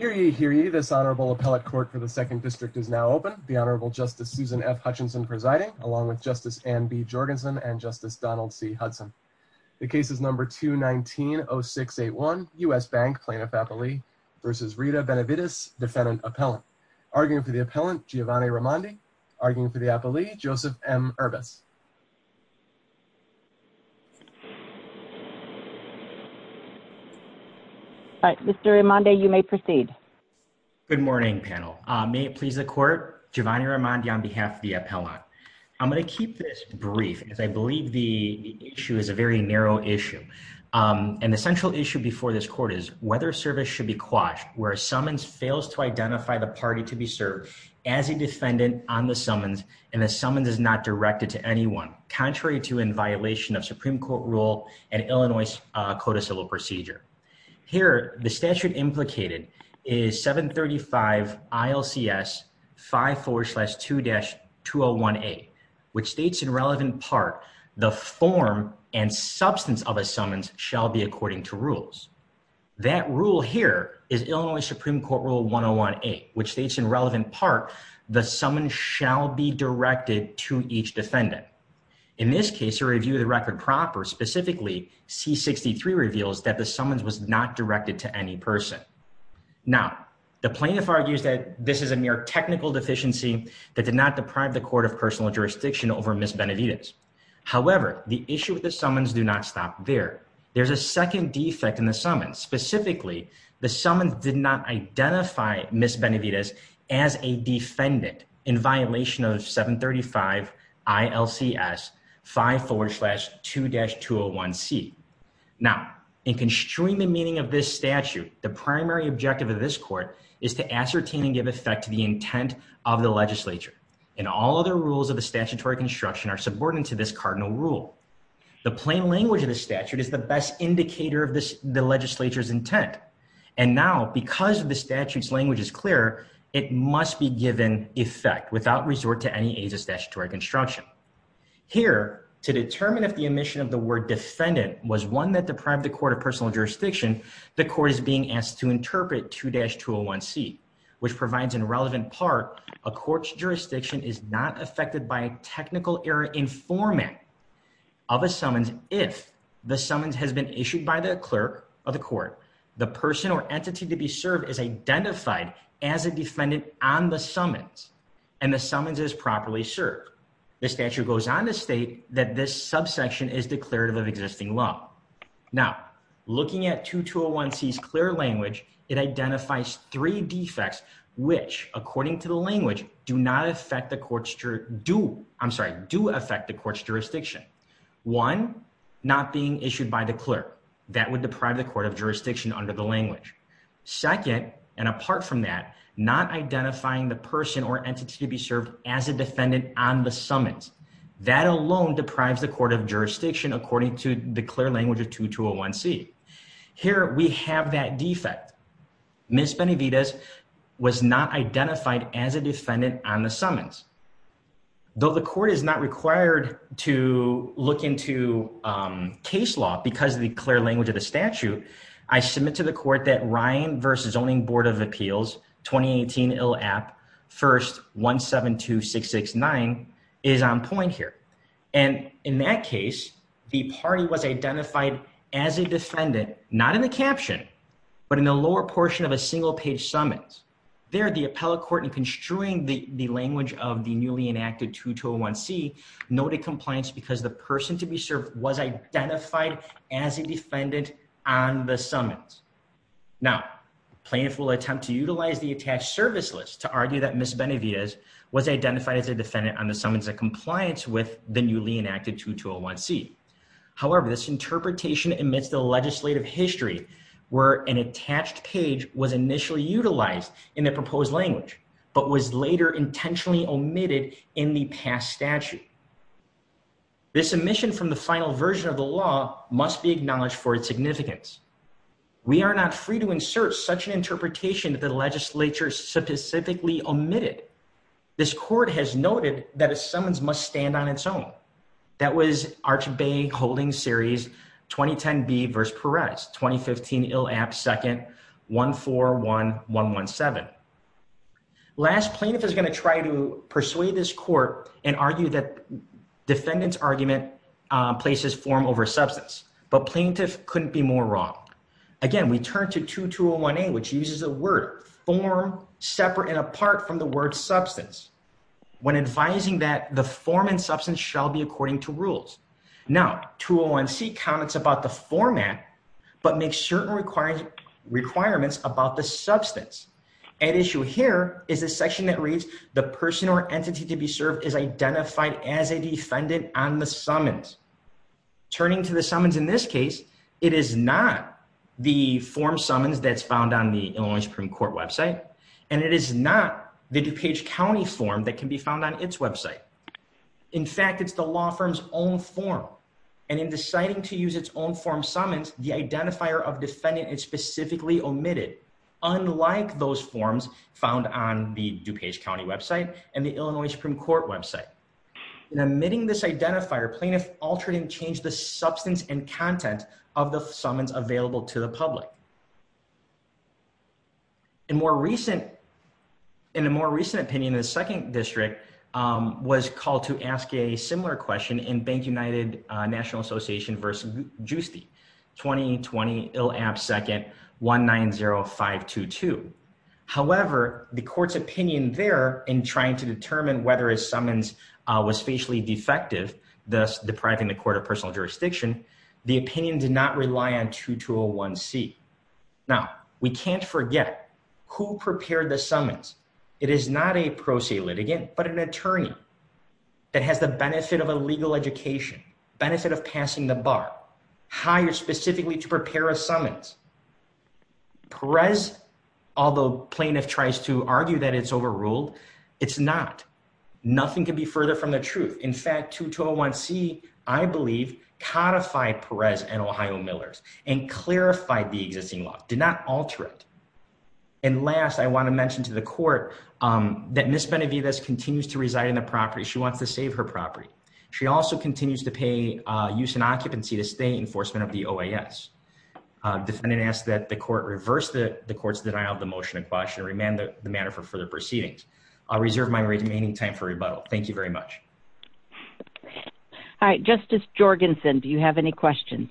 219-0681, U.S. Bank Plaintiff-Appellee v. Rita Benavides, Defendant-Appellant. Arguing for the Appellant, Giovanni Raimondi. Arguing for the Appellee, Joseph M. Erbis. All right, Mr. Raimondi, you may proceed. Good morning, panel. May it please the Court, Giovanni Raimondi on behalf of the Appellant. I'm going to keep this brief because I believe the issue is a very narrow issue. And the central issue before this Court is whether service should be quashed where a summons fails to identify the party to be served as a defendant on the summons and the summons is not directed to anyone, contrary to in violation of Supreme Court rule and Illinois Code of Civil Procedure. Here, the statute implicated is 735 ILCS 54-2-2018, which states in relevant part, the form and substance of a summons shall be according to rules. That rule here is Illinois Supreme Court rule 101-8, which states in relevant part, the summons shall be directed to each defendant. In this case, a review of the record proper, specifically C-63, reveals that the summons was not directed to any person. Now, the plaintiff argues that this is a mere technical deficiency that did not deprive the court of personal jurisdiction over Ms. Benavides. However, the issue with the summons do not stop there. There's a second defect in the summons. Specifically, the summons did not identify Ms. Benavides as a defendant in violation of 735 ILCS 54-2-201C. Now, in construing the meaning of this statute, the primary objective of this court is to ascertain and give effect to the intent of the legislature. And all other rules of the statutory construction are subordinate to this cardinal rule. The plain language of the statute is the best indicator of the legislature's intent. And now, because the statute's language is clear, it must be given effect without resort to any aids of statutory construction. Here, to determine if the omission of the word defendant was one that deprived the court of personal jurisdiction, the court is being asked to interpret 2-201C, which provides in relevant part, a court's jurisdiction is not affected by a technical error in format. Of a summons, if the summons has been issued by the clerk of the court, the person or entity to be served is identified as a defendant on the summons and the summons is properly served. The statute goes on to state that this subsection is declarative of existing law. Now, looking at 2-201C's clear language, it identifies three defects, which, according to the language, do not affect the court's jurisdiction. One, not being issued by the clerk. That would deprive the court of jurisdiction under the language. Second, and apart from that, not identifying the person or entity to be served as a defendant on the summons. That alone deprives the court of jurisdiction according to the clear language of 2-201C. Here, we have that defect. Ms. Benavidez was not identified as a defendant on the summons. Though the court is not required to look into case law because of the clear language of the statute, I submit to the court that Ryan v. Zoning Board of Appeals 2018 ILAP 1-172669 is on point here. And in that case, the party was identified as a defendant, not in the caption, but in the lower portion of a single-page summons. There, the appellate court, in construing the language of the newly enacted 2-201C, noted compliance because the person to be served was identified as a defendant on the summons. Now, plaintiff will attempt to utilize the attached service list to argue that Ms. Benavidez was identified as a defendant on the summons in compliance with the newly enacted 2-201C. However, this interpretation omits the legislative history where an attached page was initially utilized in the proposed language, but was later intentionally omitted in the past statute. This omission from the final version of the law must be acknowledged for its significance. We are not free to insert such an interpretation that the legislature specifically omitted. This court has noted that a summons must stand on its own. That was Arch Bay Holdings Series 2010B v. Perez, 2015 ILAP 2-141117. Last, plaintiff is going to try to persuade this court and argue that defendant's argument places form over substance. But plaintiff couldn't be more wrong. Again, we turn to 2-201A, which uses the word form separate and apart from the word substance when advising that the form and substance shall be according to rules. Now, 2-201C comments about the format, but makes certain requirements about the substance. At issue here is a section that reads, the person or entity to be served is identified as a defendant on the summons. Turning to the summons in this case, it is not the form summons that's found on the Illinois Supreme Court website, and it is not the DuPage County form that can be found on its website. In fact, it's the law firm's own form. And in deciding to use its own form summons, the identifier of defendant is specifically omitted, unlike those forms found on the DuPage County website and the Illinois Supreme Court website. In omitting this identifier, plaintiff altered and changed the substance and content of the summons available to the public. In a more recent opinion, the 2nd District was called to ask a similar question in Bank United National Association v. Giusti, 2-20-IL-AP-2-190522. However, the court's opinion there in trying to determine whether his summons was facially defective, thus depriving the court of personal jurisdiction, the opinion did not rely on 2-201C. Now, we can't forget who prepared the summons. It is not a pro se litigant, but an attorney that has the benefit of a legal education, benefit of passing the bar, hired specifically to prepare a summons. Perez, although plaintiff tries to argue that it's overruled, it's not. Nothing can be further from the truth. In fact, 2-201C, I believe, codified Perez and Ohio Millers and clarified the existing law, did not alter it. And last, I want to mention to the court that Ms. Benavidez continues to reside in the property. She wants to save her property. She also continues to pay use and occupancy to state enforcement of the OAS. Defendant asks that the court reverse the court's denial of the motion of caution and remand the matter for further proceedings. I'll reserve my remaining time for rebuttal. Thank you very much. All right. Justice Jorgensen, do you have any questions?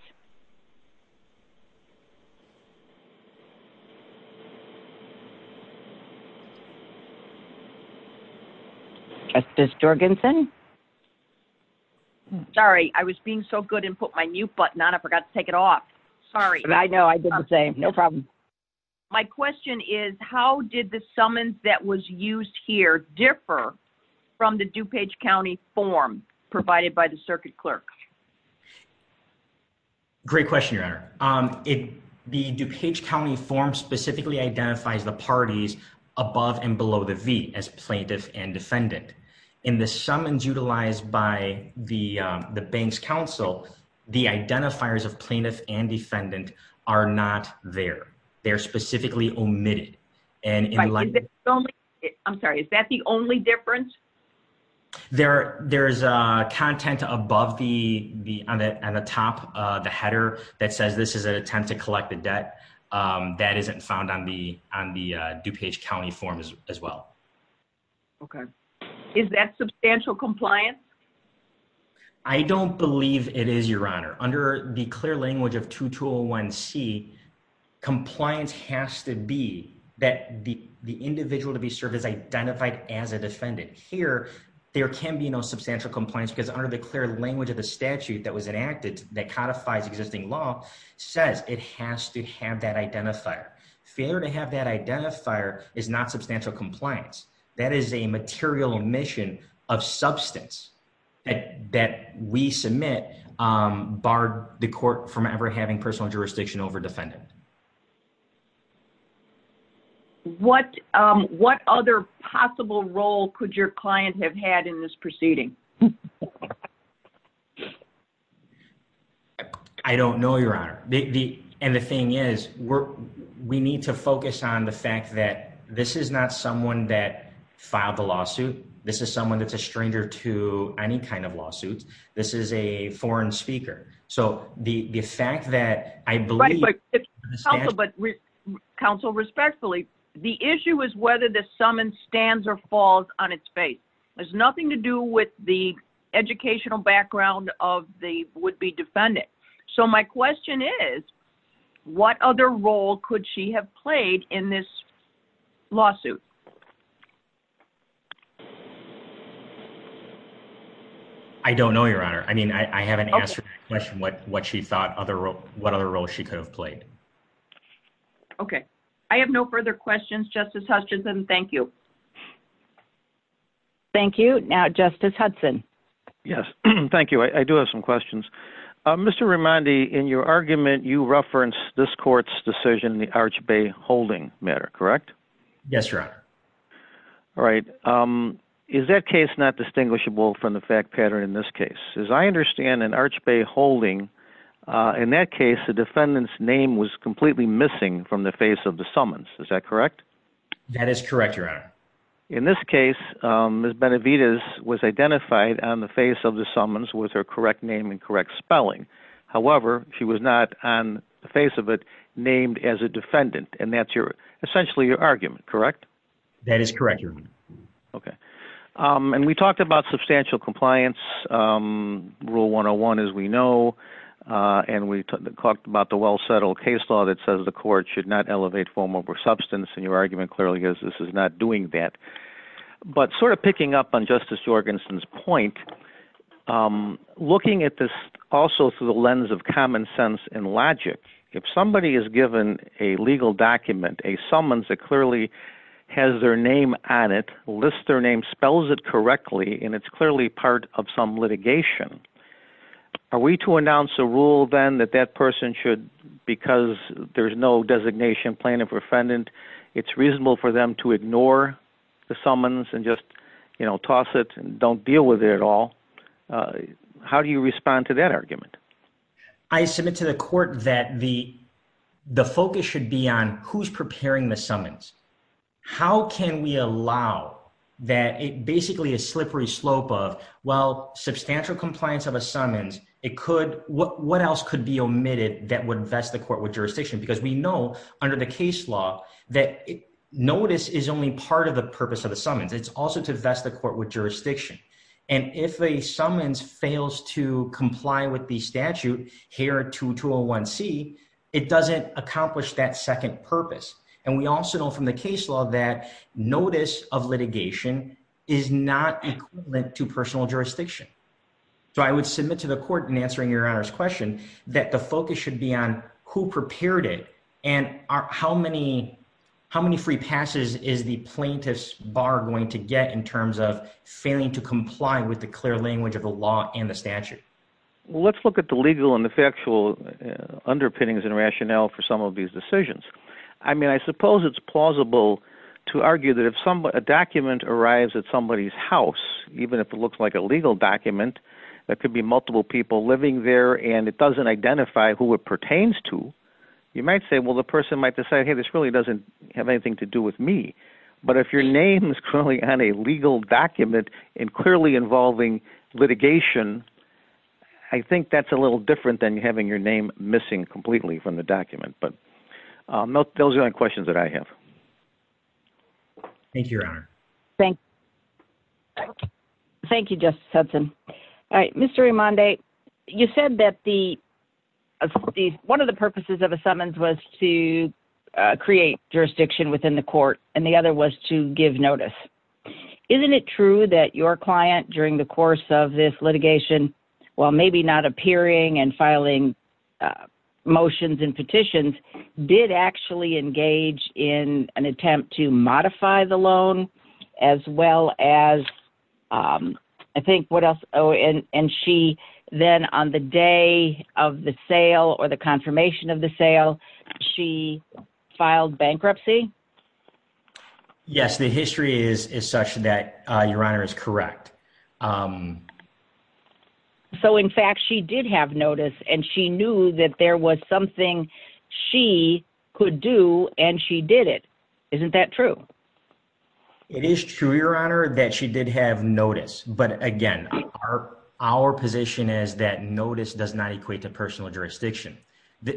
Justice Jorgensen? Sorry. I was being so good and put my mute button on. I forgot to take it off. Sorry. I know. I didn't say. No problem. My question is, how did the summons that was used here differ from the DuPage County form provided by the circuit clerk? Great question, Your Honor. The DuPage County form specifically identifies the parties above and below the V as plaintiff and defendant. In the summons utilized by the bank's counsel, the identifiers of plaintiff and defendant are not there. They're specifically omitted. I'm sorry. Is that the only difference? There's content above on the top of the header that says this is an attempt to collect the debt. That isn't found on the DuPage County form as well. Okay. Is that substantial compliance? I don't believe it is, Your Honor. Under the clear language of 2201C, compliance has to be that the individual to be served is identified as a defendant. Here, there can be no substantial compliance because under the clear language of the statute that was enacted that codifies existing law says it has to have that identifier. Failure to have that identifier is not substantial compliance. That is a material omission of substance that we submit barred the court from ever having personal jurisdiction over defendant. What other possible role could your client have had in this proceeding? I don't know, Your Honor. And the thing is, we need to focus on the fact that this is not someone that filed the lawsuit. This is someone that's a stranger to any kind of lawsuit. This is a foreign speaker. So, the fact that I believe... Right, but counsel, respectfully, the issue is whether the summons stands or falls on its face. It has nothing to do with the educational background of the would-be defendant. So, my question is, what other role could she have played in this lawsuit? I don't know, Your Honor. I mean, I haven't asked her what she thought what other role she could have played. Okay. I have no further questions. Justice Hutchinson, thank you. Thank you. Now, Justice Hudson. Yes, thank you. I do have some questions. Mr. Rimondi, in your argument, you referenced this court's decision in the Arch Bay holding matter, correct? Yes, Your Honor. All right. Is that case not distinguishable from the fact pattern in this case? As I understand, in Arch Bay holding, in that case, the defendant's name was completely missing from the face of the summons. Is that correct? That is correct, Your Honor. In this case, Ms. Benavidez was identified on the face of the summons with her correct name and correct spelling. However, she was not, on the face of it, named as a defendant, and that's essentially your argument, correct? That is correct, Your Honor. Okay. And we talked about substantial compliance, Rule 101, as we know. And we talked about the well-settled case law that says the court should not elevate form over substance. And your argument clearly is this is not doing that. But sort of picking up on Justice Jorgensen's point, looking at this also through the lens of common sense and logic, if somebody is given a legal document, a summons that clearly has their name on it, lists their name, spells it correctly, and it's clearly part of some litigation, are we to announce a rule then that that person should, because there's no designation, plaintiff or defendant, it's reasonable for them to ignore the summons and just, you know, toss it and don't deal with it at all? How do you respond to that argument? I submit to the court that the focus should be on who's preparing the summons. How can we allow that basically a slippery slope of, well, substantial compliance of a summons, what else could be omitted that would vest the court with jurisdiction? Because we know under the case law that notice is only part of the purpose of the summons. It's also to vest the court with jurisdiction. And if a summons fails to comply with the statute here at 2201C, it doesn't accomplish that second purpose. And we also know from the case law that notice of litigation is not equivalent to personal jurisdiction. So I would submit to the court in answering your Honor's question that the focus should be on who prepared it and how many free passes is the plaintiff's bar going to get in terms of failing to comply with the clear language of the law and the statute? Let's look at the legal and the factual underpinnings and rationale for some of these decisions. I mean, I suppose it's plausible to argue that if a document arrives at somebody's house, even if it looks like a legal document that could be multiple people living there and it doesn't identify who it pertains to, you might say, well, the person might decide, hey, this really doesn't have anything to do with me. But if your name is currently on a legal document and clearly involving litigation, I think that's a little different than having your name missing completely from the document. But those are the only questions that I have. Thank you, Your Honor. Thank you, Justice Hudson. Mr. Raimondi, you said that one of the purposes of a summons was to create jurisdiction within the court and the other was to give notice. Isn't it true that your client, during the course of this litigation, while maybe not appearing and filing motions and petitions, did actually engage in an attempt to modify the loan as well as, I think, what else? And she then, on the day of the sale or the confirmation of the sale, she filed bankruptcy? Yes, the history is such that Your Honor is correct. So, in fact, she did have notice and she knew that there was something she could do and she did it. Isn't that true? It is true, Your Honor, that she did have notice. But, again, our position is that notice does not equate to personal jurisdiction.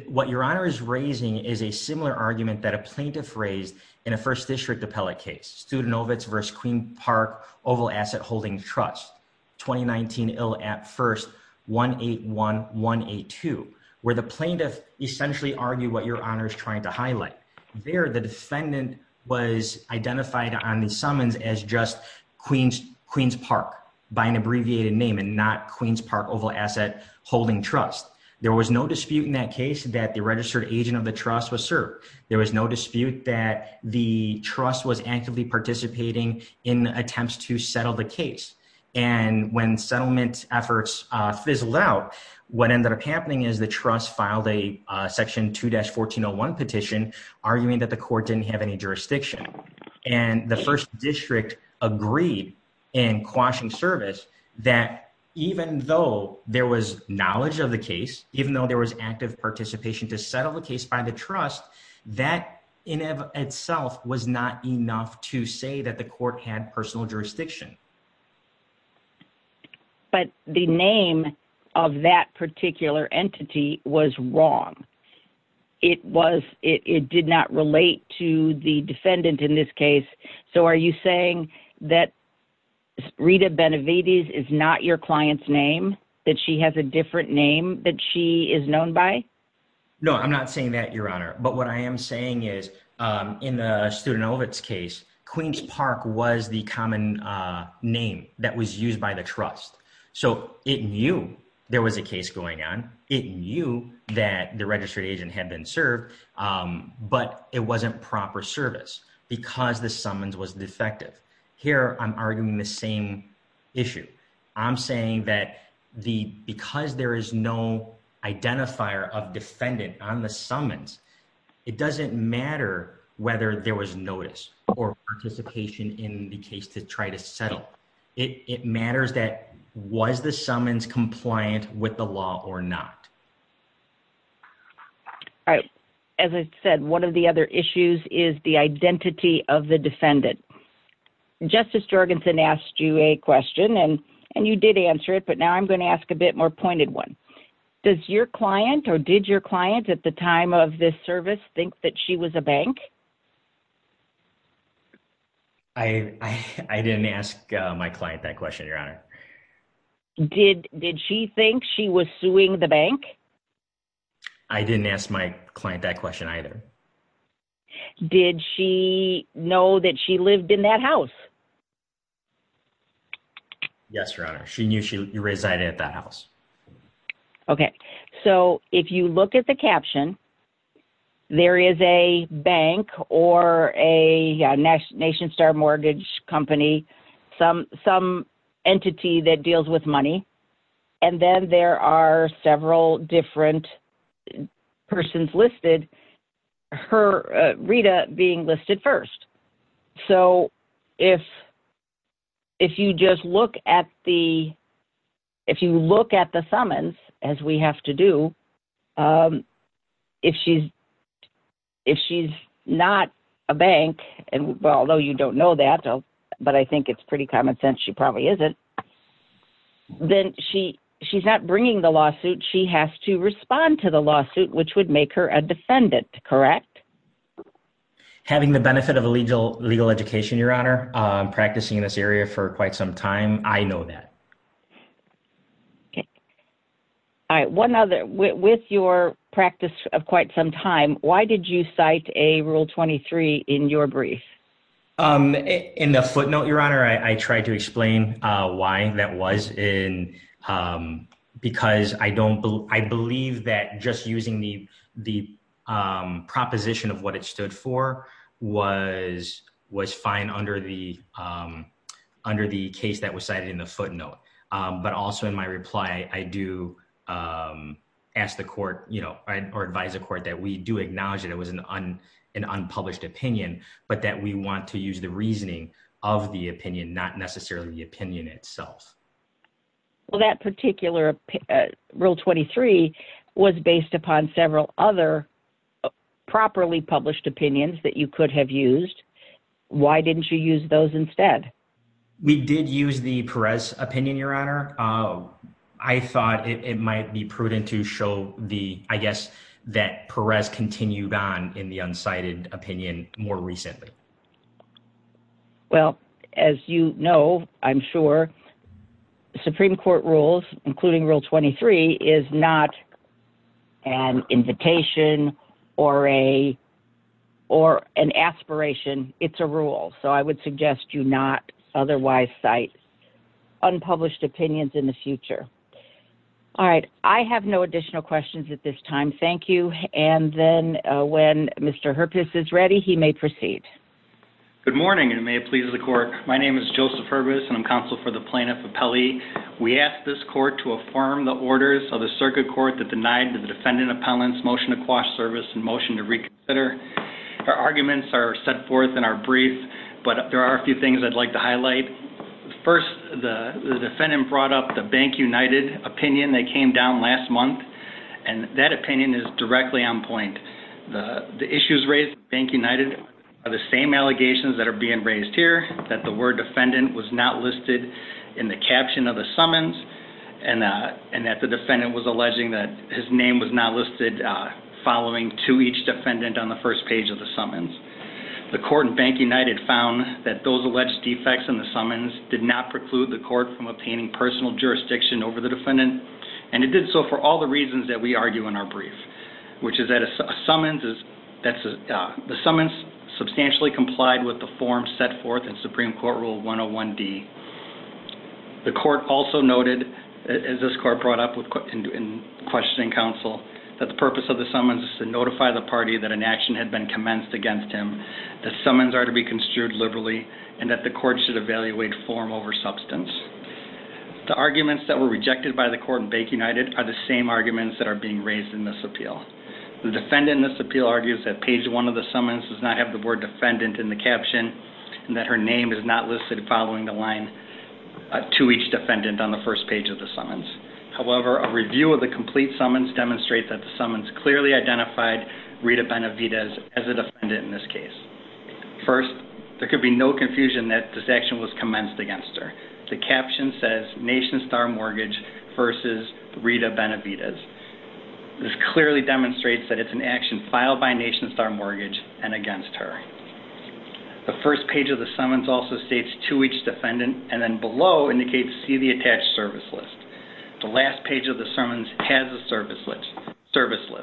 What Your Honor is raising is a similar argument that a plaintiff raised in a First District appellate case, Studenovitz v. Queen Park Oval Asset Holding Trust, 2019 ill at first 181-182, where the plaintiff essentially argued what Your Honor is trying to highlight. There, the defendant was identified on the summons as just Queen's Park by an abbreviated name and not Queen's Park Oval Asset Holding Trust. There was no dispute in that case that the registered agent of the trust was served. There was no dispute that the trust was actively participating in attempts to settle the case. And when settlement efforts fizzled out, what ended up happening is the trust filed a Section 2-1401 petition arguing that the court didn't have any jurisdiction. And the First District agreed in quashing service that even though there was knowledge of the case, even though there was active participation to settle the case by the trust, that in and of itself was not enough to say that the court had personal jurisdiction. But the name of that particular entity was wrong. It did not relate to the defendant in this case. So are you saying that Rita Benavides is not your client's name, that she has a different name that she is known by? No, I'm not saying that, Your Honor. But what I am saying is in the Studenovitz case, Queen's Park was the common name that was used by the trust. So it knew there was a case going on. It knew that the registered agent had been served, but it wasn't proper service because the summons was defective. Here, I'm arguing the same issue. I'm saying that because there is no identifier of defendant on the summons, it doesn't matter whether there was notice or participation in the case to try to settle. It matters that was the summons compliant with the law or not? All right. As I said, one of the other issues is the identity of the defendant. Justice Jorgensen asked you a question, and you did answer it, but now I'm going to ask a bit more pointed one. Does your client or did your client at the time of this service think that she was a bank? I didn't ask my client that question, Your Honor. Did she think she was suing the bank? I didn't ask my client that question either. Did she know that she lived in that house? Yes, Your Honor. She knew she resided at that house. Okay. So if you look at the caption, there is a bank or a Nation Star Mortgage Company, some entity that deals with money, and then there are several different persons listed, Rita being listed first. So if you just look at the summons, as we have to do, if she's not a bank, and although you don't know that, but I think it's pretty common sense she probably isn't, then she's not bringing the lawsuit. She has to respond to the lawsuit, which would make her a defendant, correct? Having the benefit of a legal education, Your Honor, practicing in this area for quite some time, I know that. Okay. All right. One other, with your practice of quite some time, why did you cite a Rule 23 in your brief? In the footnote, Your Honor, I tried to explain why that was, because I believe that just using the proposition of what it stood for was fine under the case that was cited in the footnote. But also in my reply, I do ask the court or advise the court that we do acknowledge that it was an unpublished opinion, but that we want to use the reasoning of the opinion, not necessarily the opinion itself. Well, that particular Rule 23 was based upon several other properly published opinions that you could have used. Why didn't you use those instead? We did use the Perez opinion, Your Honor. I thought it might be prudent to show, I guess, that Perez continued on in the uncited opinion more recently. Well, as you know, I'm sure, Supreme Court rules, including Rule 23, is not an invitation or an aspiration. It's a rule. So I would suggest you not otherwise cite unpublished opinions in the future. All right. I have no additional questions at this time. Thank you. And then when Mr. Herpes is ready, he may proceed. Good morning, and may it please the court. My name is Joseph Herpes, and I'm counsel for the plaintiff appellee. We ask this court to affirm the orders of the circuit court that denied the defendant appellant's motion to quash service and motion to reconsider. Our arguments are set forth in our brief, but there are a few things I'd like to highlight. First, the defendant brought up the Bank United opinion that came down last month. And that opinion is directly on point. The issues raised at Bank United are the same allegations that are being raised here, that the word defendant was not listed in the caption of the summons, and that the defendant was alleging that his name was not listed following to each defendant on the first page of the summons. The court in Bank United found that those alleged defects in the summons did not preclude the court from obtaining personal jurisdiction over the defendant, and it did so for all the reasons that we argue in our brief, which is that the summons substantially complied with the form set forth in Supreme Court Rule 101D. The court also noted, as this court brought up in questioning counsel, that the purpose of the summons is to notify the party that an action had been commenced against him, that summons are to be construed liberally, and that the court should evaluate form over substance. The arguments that were rejected by the court in Bank United are the same arguments that are being raised in this appeal. The defendant in this appeal argues that page one of the summons does not have the word defendant in the caption, and that her name is not listed following the line to each defendant on the first page of the summons. However, a review of the complete summons demonstrates that the summons clearly identified Rita Benavidez as a defendant in this case. First, there could be no confusion that this action was commenced against her. The caption says, Nation Star Mortgage versus Rita Benavidez. This clearly demonstrates that it's an action filed by Nation Star Mortgage and against her. The first page of the summons also states, to each defendant, and then below indicates, see the attached service list. The last page of the summons has a service list. That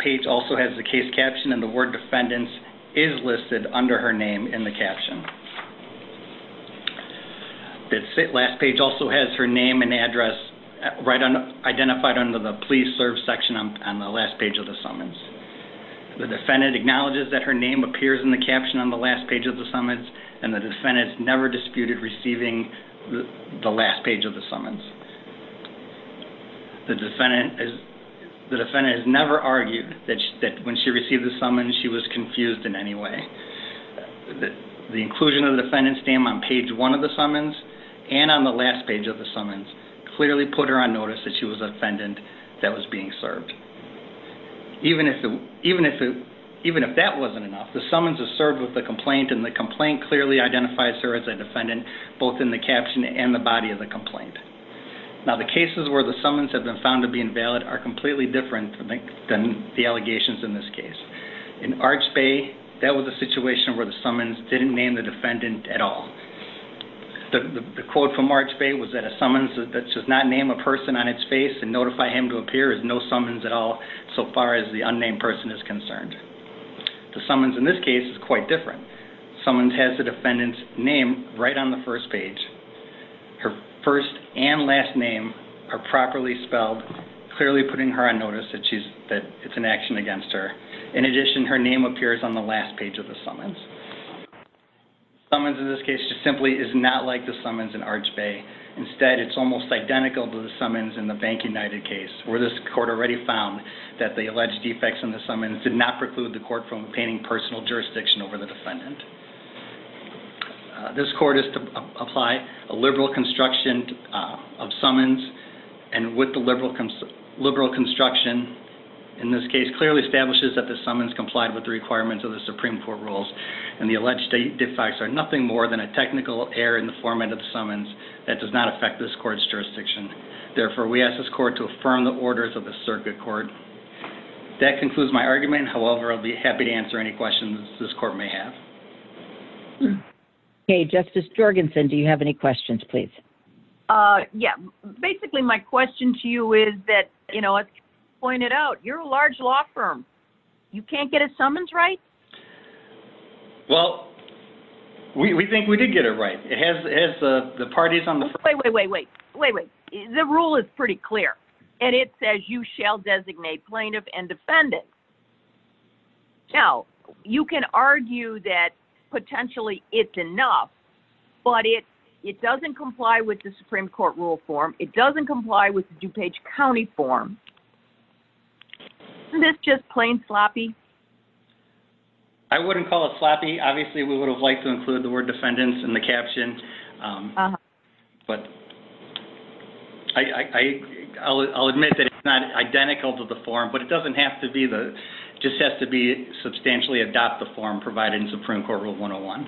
page also has the case caption, and the word defendants is listed under her name in the caption. The last page also has her name and address identified under the please serve section on the last page of the summons. The defendant acknowledges that her name appears in the caption on the last page of the summons, and the defendant has never disputed receiving the last page of the summons. The defendant has never argued that when she received the summons she was confused in any way. The inclusion of the defendant's name on page one of the summons and on the last page of the summons clearly put her on notice that she was a defendant that was being served. Even if that wasn't enough, the summons is served with the complaint, and the complaint clearly identifies her as a defendant both in the caption and the body of the complaint. Now the cases where the summons have been found to be invalid are completely different than the allegations in this case. In Arch Bay, that was a situation where the summons didn't name the defendant at all. The quote from Arch Bay was that a summons that does not name a person on its face and notify him to appear is no summons at all so far as the unnamed person is concerned. The summons in this case is quite different. The summons has the defendant's name right on the first page. Her first and last name are properly spelled, clearly putting her on notice that it's an action against her. In addition, her name appears on the last page of the summons. The summons in this case simply is not like the summons in Arch Bay. Instead, it's almost identical to the summons in the Bank United case where this court already found that the alleged defects in the summons This court is to apply a liberal construction of summons and with the liberal construction, in this case, clearly establishes that the summons complied with the requirements of the Supreme Court rules and the alleged defects are nothing more than a technical error in the format of the summons that does not affect this court's jurisdiction. Therefore, we ask this court to affirm the orders of the circuit court. That concludes my argument. However, I'll be happy to answer any questions this court may have. Okay, Justice Jorgensen, do you have any questions, please? Yeah, basically my question to you is that, you know, as pointed out, you're a large law firm. You can't get a summons right? Well, we think we did get it right. It has the parties on the... Wait, wait, wait, wait. The rule is pretty clear. And it says you shall designate plaintiff and defendant. Now, you can argue that potentially it's enough, but it doesn't comply with the Supreme Court rule form. It doesn't comply with the DuPage County form. Isn't this just plain sloppy? I wouldn't call it sloppy. Obviously, we would have liked to include the word defendants in the caption. But I'll admit that it's not identical to the form, but it doesn't have to be the... Just has to be substantially adopt the form provided in Supreme Court rule 101.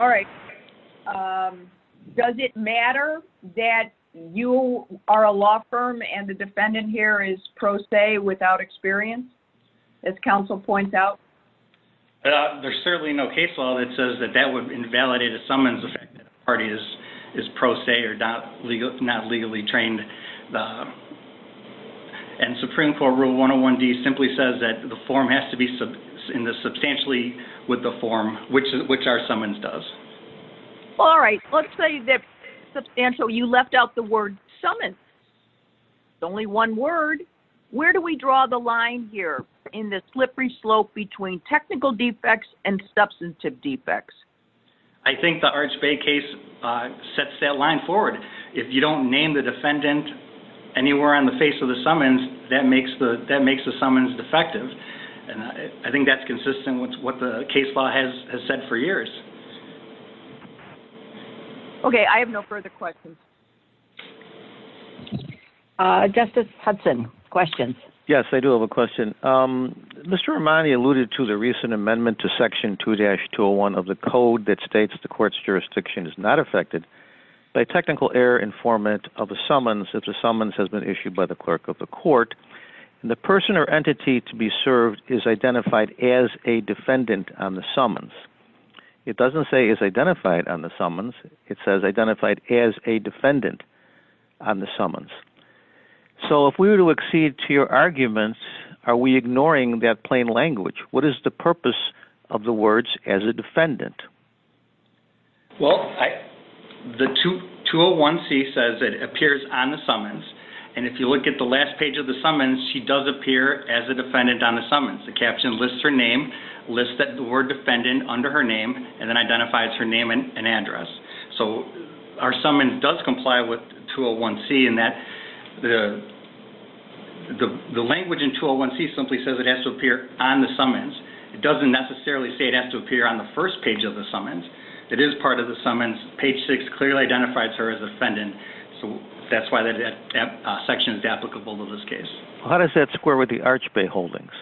All right. Does it matter that you are a law firm and the defendant here is pro se without experience, as counsel points out? There's certainly no case law that says that that would invalidate a summons if the party is pro se or not legally trained. And Supreme Court rule 101-D simply says that the form has to be substantially with the form, which our summons does. All right. Let's say that substantially you left out the word summons. It's only one word. Where do we draw the line here? In the slippery slope between technical defects and substantive defects. I think the Arch Bay case sets that line forward. If you don't name the defendant anywhere on the face of the summons, that makes the summons defective. And I think that's consistent with what the case law has said for years. Okay. I have no further questions. Justice Hudson, questions? Yes, I do have a question. Mr. Armani alluded to the recent amendment to section 2-201 of the code that states the court's jurisdiction is not affected by technical error informant of a summons if the summons has been issued by the clerk of the court and the person or entity to be served is identified as a defendant on the summons. It doesn't say is identified on the summons. It says identified as a defendant on the summons. So if we were to accede to your argument, are we ignoring that plain language? What is the purpose of the words as a defendant? Well, the 201C says it appears on the summons. And if you look at the last page of the summons, she does appear as a defendant on the summons. The caption lists her name, lists the word defendant under her name, and then identifies her name and address. So our summons does comply with 201C in that the language in 201C simply says it has to appear on the summons. It doesn't necessarily say it has to appear on the first page of the summons. It is part of the summons. Page 6 clearly identifies her as a defendant. So that's why that section is applicable to this case. How does that square with the Arch Bay Holdings?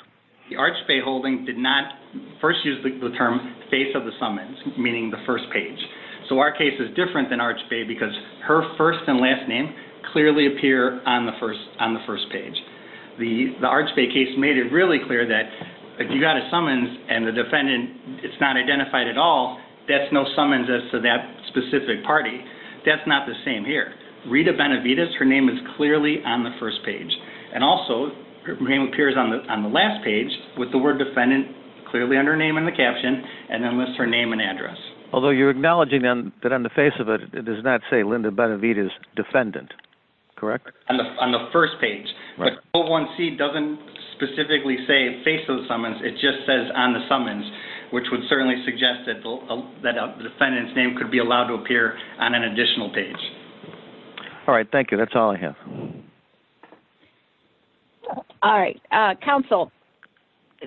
The Arch Bay Holdings did not first use the term face of the summons, meaning the first page. So our case is different than Arch Bay because her first and last name clearly appear on the first page. The Arch Bay case made it really clear that if you got a summons and the defendant is not identified at all, that's no summons as to that specific party. That's not the same here. Rita Benavides, her name is clearly on the first page. And also, her name appears on the last page with the word defendant clearly under her name in the caption and then lists her name and address. Although you're acknowledging then that on the face of it it does not say Linda Benavides, defendant. Correct? On the first page. 01C doesn't specifically say face of the summons. It just says on the summons, which would certainly suggest that the defendant's name could be allowed to appear on an additional page. All right, thank you. That's all I have. All right. Counsel,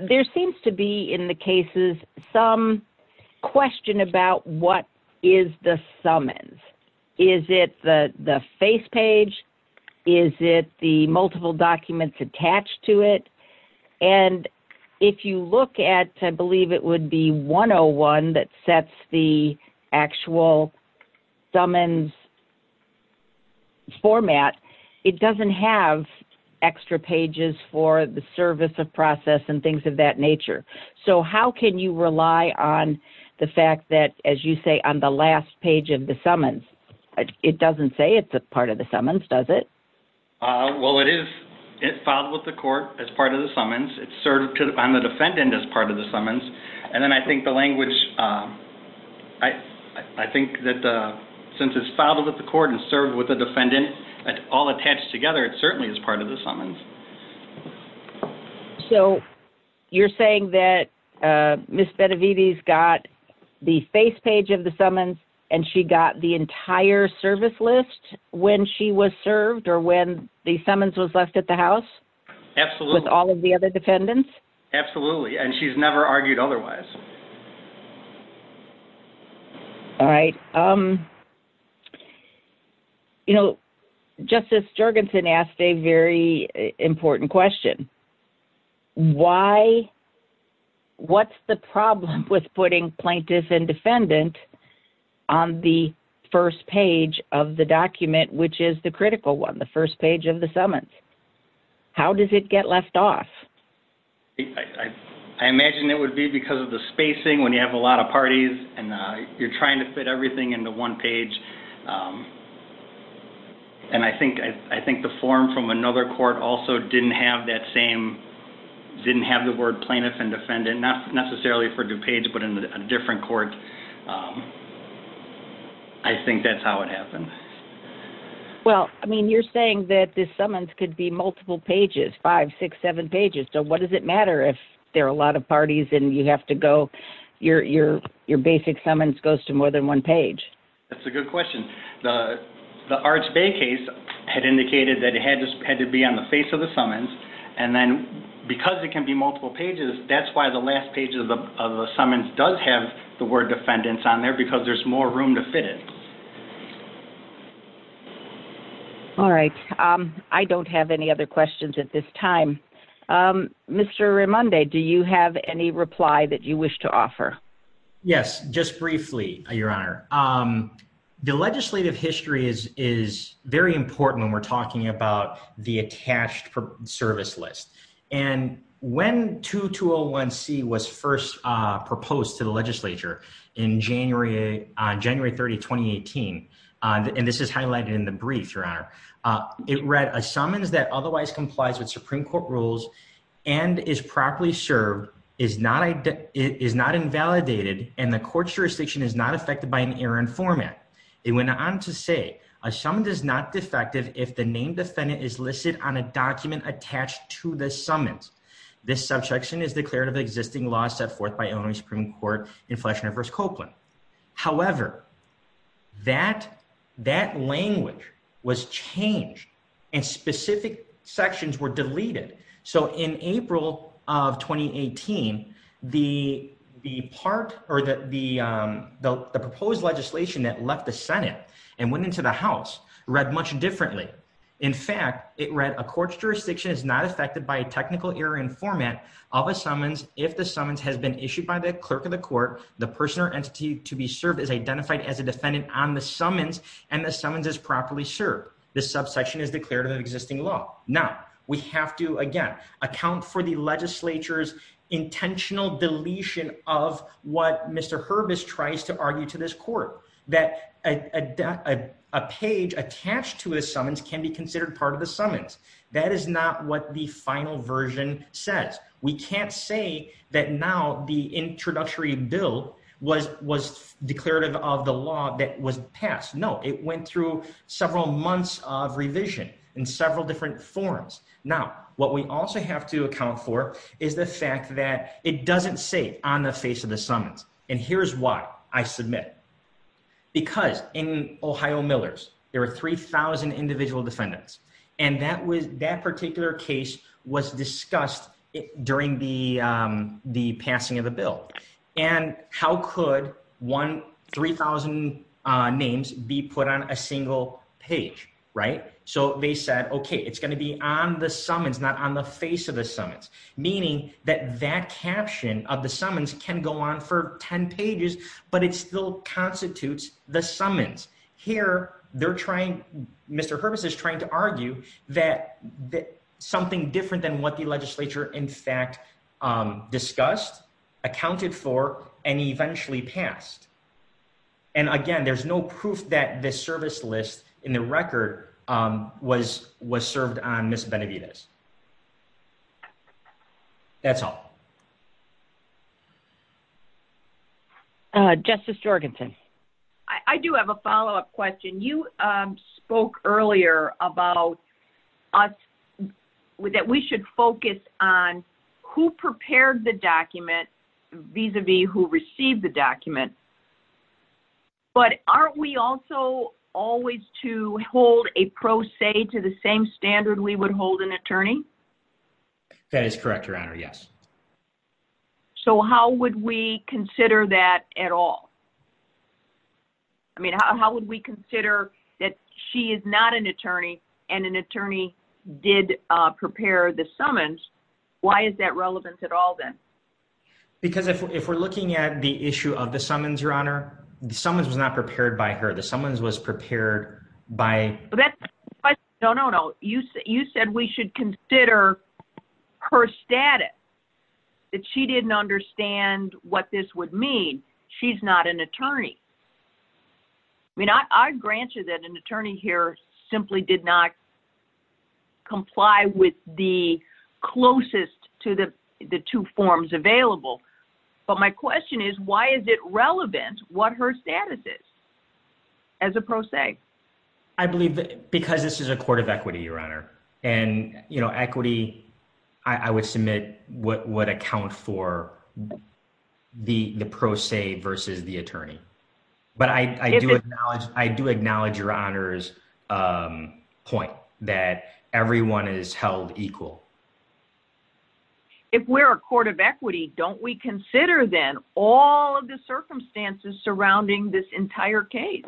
there seems to be in the cases some question about what is the summons. Is it the face page? Is it the multiple documents attached to it? And if you look at, I believe it would be 101 that sets the actual summons format, it doesn't have extra pages for the service of process and things of that nature. So how can you rely on the fact that, as you say, on the last page of the summons, it doesn't say it's a part of the summons, does it? Well, it is. It's filed with the court as part of the summons. It's served on the defendant as part of the summons. And then I think the language, I think that since it's filed with the court and served with the defendant, all attached together, it certainly is part of the summons. So you're saying that Ms. Benavides got the face page of the summons and she got the entire service list when she was served or when the summons was left at the house? Absolutely. With all of the other defendants? Absolutely. And she's never argued otherwise. All right. You know, Justice Jergensen asked a very important question. Why? What's the problem with putting plaintiff and defendant on the first page of the document, which is the critical one, the first page of the summons? How does it get left off? I imagine it would be because of the spacing when you have a lot of parties and you're trying to fit everything into one page. And I think the form from another court also didn't have that same, didn't have the word plaintiff and defendant, not necessarily for DuPage, but in a different court. I think that's how it happened. Well, I mean, you're saying that the summons could be multiple pages, five, six, seven pages. So what does it matter if there are a lot of parties and you have to go, your basic summons goes to more than one page? That's a good question. The Arch Bay case had indicated that it had to be on the face of the summons, and then because it can be multiple pages, that's why the last page of the summons does have the word defendants on there, because there's more room to fit it. All right. I don't have any other questions at this time. Mr. Rimonde, do you have any reply that you wish to offer? Yes, just briefly, Your Honor. The legislative history is very important when we're talking about the attached service list. And when 2201C was first proposed to the legislature on January 30, 2018, and this is highlighted in the brief, Your Honor, it read, a summons that otherwise complies with Supreme Court rules and is properly served is not invalidated, and the court jurisdiction is not affected by an error in format. It went on to say, a summons is not defective if the named defendant is listed on a document attached to the summons. This subsection is declared of existing laws set forth by Illinois Supreme Court in Fleishner v. Copeland. However, that language was changed, and specific sections were deleted. So in April of 2018, the proposed legislation that left the Senate and went into the House read much differently. In fact, it read, a court's jurisdiction is not affected by a technical error in format of a summons if the summons has been issued by the clerk of the court, the person or entity to be served is identified as a defendant on the summons, and the summons is properly served. This subsection is declared of existing law. Now, we have to, again, account for the legislature's intentional deletion of what Mr. Herbis tries to argue to this court, that a page attached to a summons can be considered part of the summons. That is not what the final version says. We can't say that now the introductory bill was declarative of the law that was passed. No, it went through several months of revision in several different forms. Now, what we also have to account for is the fact that it doesn't say on the face of the summons, and here's why I submit. Because in Ohio Millers, there were 3,000 individual defendants, and that particular case was discussed during the passing of the bill. And how could 3,000 names be put on a single page, right? So they said, okay, it's gonna be on the summons, not on the face of the summons, meaning that that caption of the summons can go on for 10 pages, but it still constitutes the summons. Here, they're trying, Mr. Herbis is trying to argue that something different than what the legislature in fact discussed, accounted for, and eventually passed. And again, there's no proof that the service list in the record was served on Ms. Benavidez. That's all. Justice Jorgenson. I do have a follow-up question. You spoke earlier about us, that we should focus on who prepared the document vis-a-vis who received the document. But aren't we also always to hold a pro se to the same standard we would hold an attorney? That is correct, Your Honor, yes. So how would we consider that at all? I mean, how would we consider that she is not an attorney and an attorney did prepare the summons? Why is that relevant at all then? Because if we're looking at the issue of the summons, Your Honor, the summons was not prepared by her. The summons was prepared by... No, no, no. You said we should consider her status, that she didn't understand what this would mean. She's not an attorney. I mean, I grant you that an attorney here simply did not comply with the closest to the two forms available. But my question is, why is it relevant what her status is as a pro se? I believe because this is a court of equity, Your Honor. And equity, I would submit, would account for the pro se versus the attorney. But I do acknowledge Your Honor's point that everyone is held equal. If we're a court of equity, don't we consider then all of the circumstances surrounding this entire case?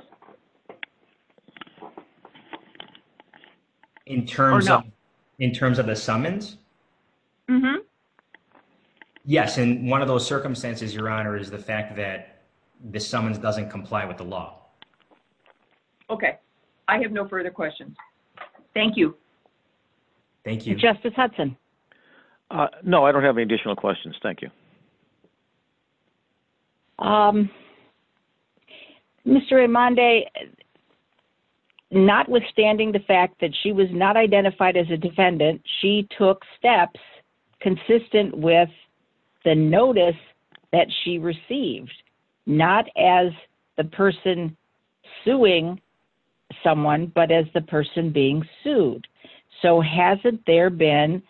In terms of the summons? Mm-hmm. Yes, and one of those circumstances, Your Honor, is the fact that the summons doesn't comply with the law. Okay. I have no further questions. Thank you. Thank you. Justice Hudson. No, I don't have any additional questions. Thank you. Mr. Raimondi, notwithstanding the fact that she was not identified as a defendant, she took steps consistent with the notice that she received, not as the person suing someone, but as the person being sued. So hasn't there been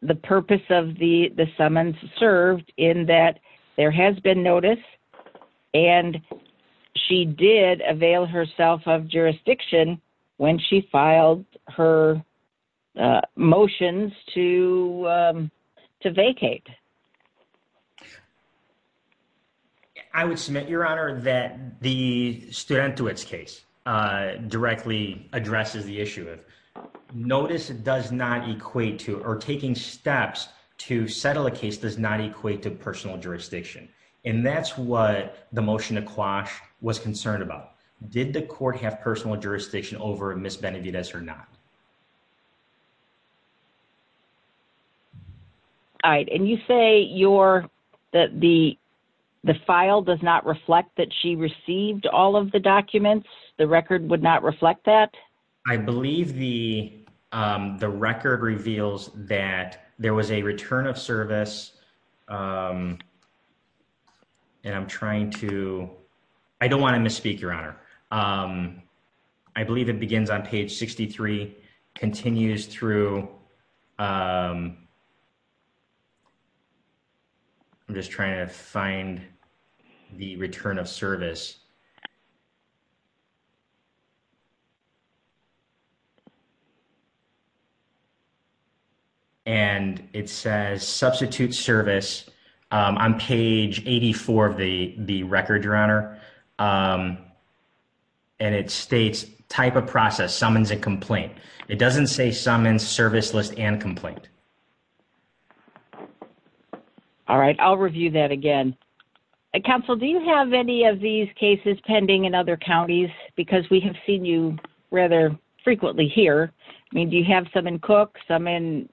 the purpose of the summons served in that there has been notice and she did avail herself of jurisdiction when she filed her motions to vacate? I would submit, Your Honor, that the Studentowitz case directly addresses the issue. Notice does not equate to, or taking steps to settle a case does not equate to personal jurisdiction. And that's what the motion to quash was concerned about. Did the court have personal jurisdiction over Ms. Benavidez or not? No. All right. And you say that the file does not reflect that she received all of the documents? The record would not reflect that? I believe the record reveals that there was a return of service. I don't want to misspeak, Your Honor. I believe it begins on page 63, continues through... I'm just trying to find the return of service. And it says substitute service and it states type of process, summons and complaint. It doesn't say summons, service list and complaint. All right. I'll review that again. Counsel, do you have any of these cases pending in other counties? Because we have seen you rather frequently here. I mean, do you have some in Cook, some in,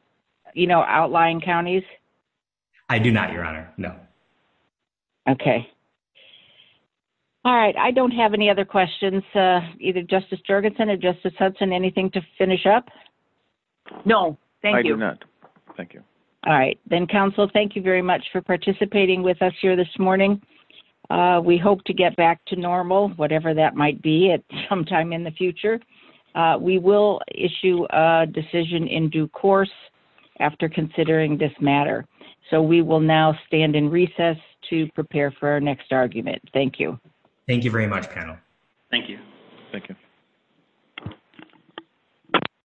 you know, outlying counties? I do not, Your Honor. No. Okay. All right. I don't have any other questions. Either Justice Jergensen or Justice Hudson, anything to finish up? No, thank you. I do not. Thank you. All right. Then, counsel, thank you very much for participating with us here this morning. We hope to get back to normal, whatever that might be at some time in the future. We will issue a decision in due course after considering this matter. So we will now stand in recess to prepare for our next argument. Thank you. Thank you very much, panel. Thank you. Thank you.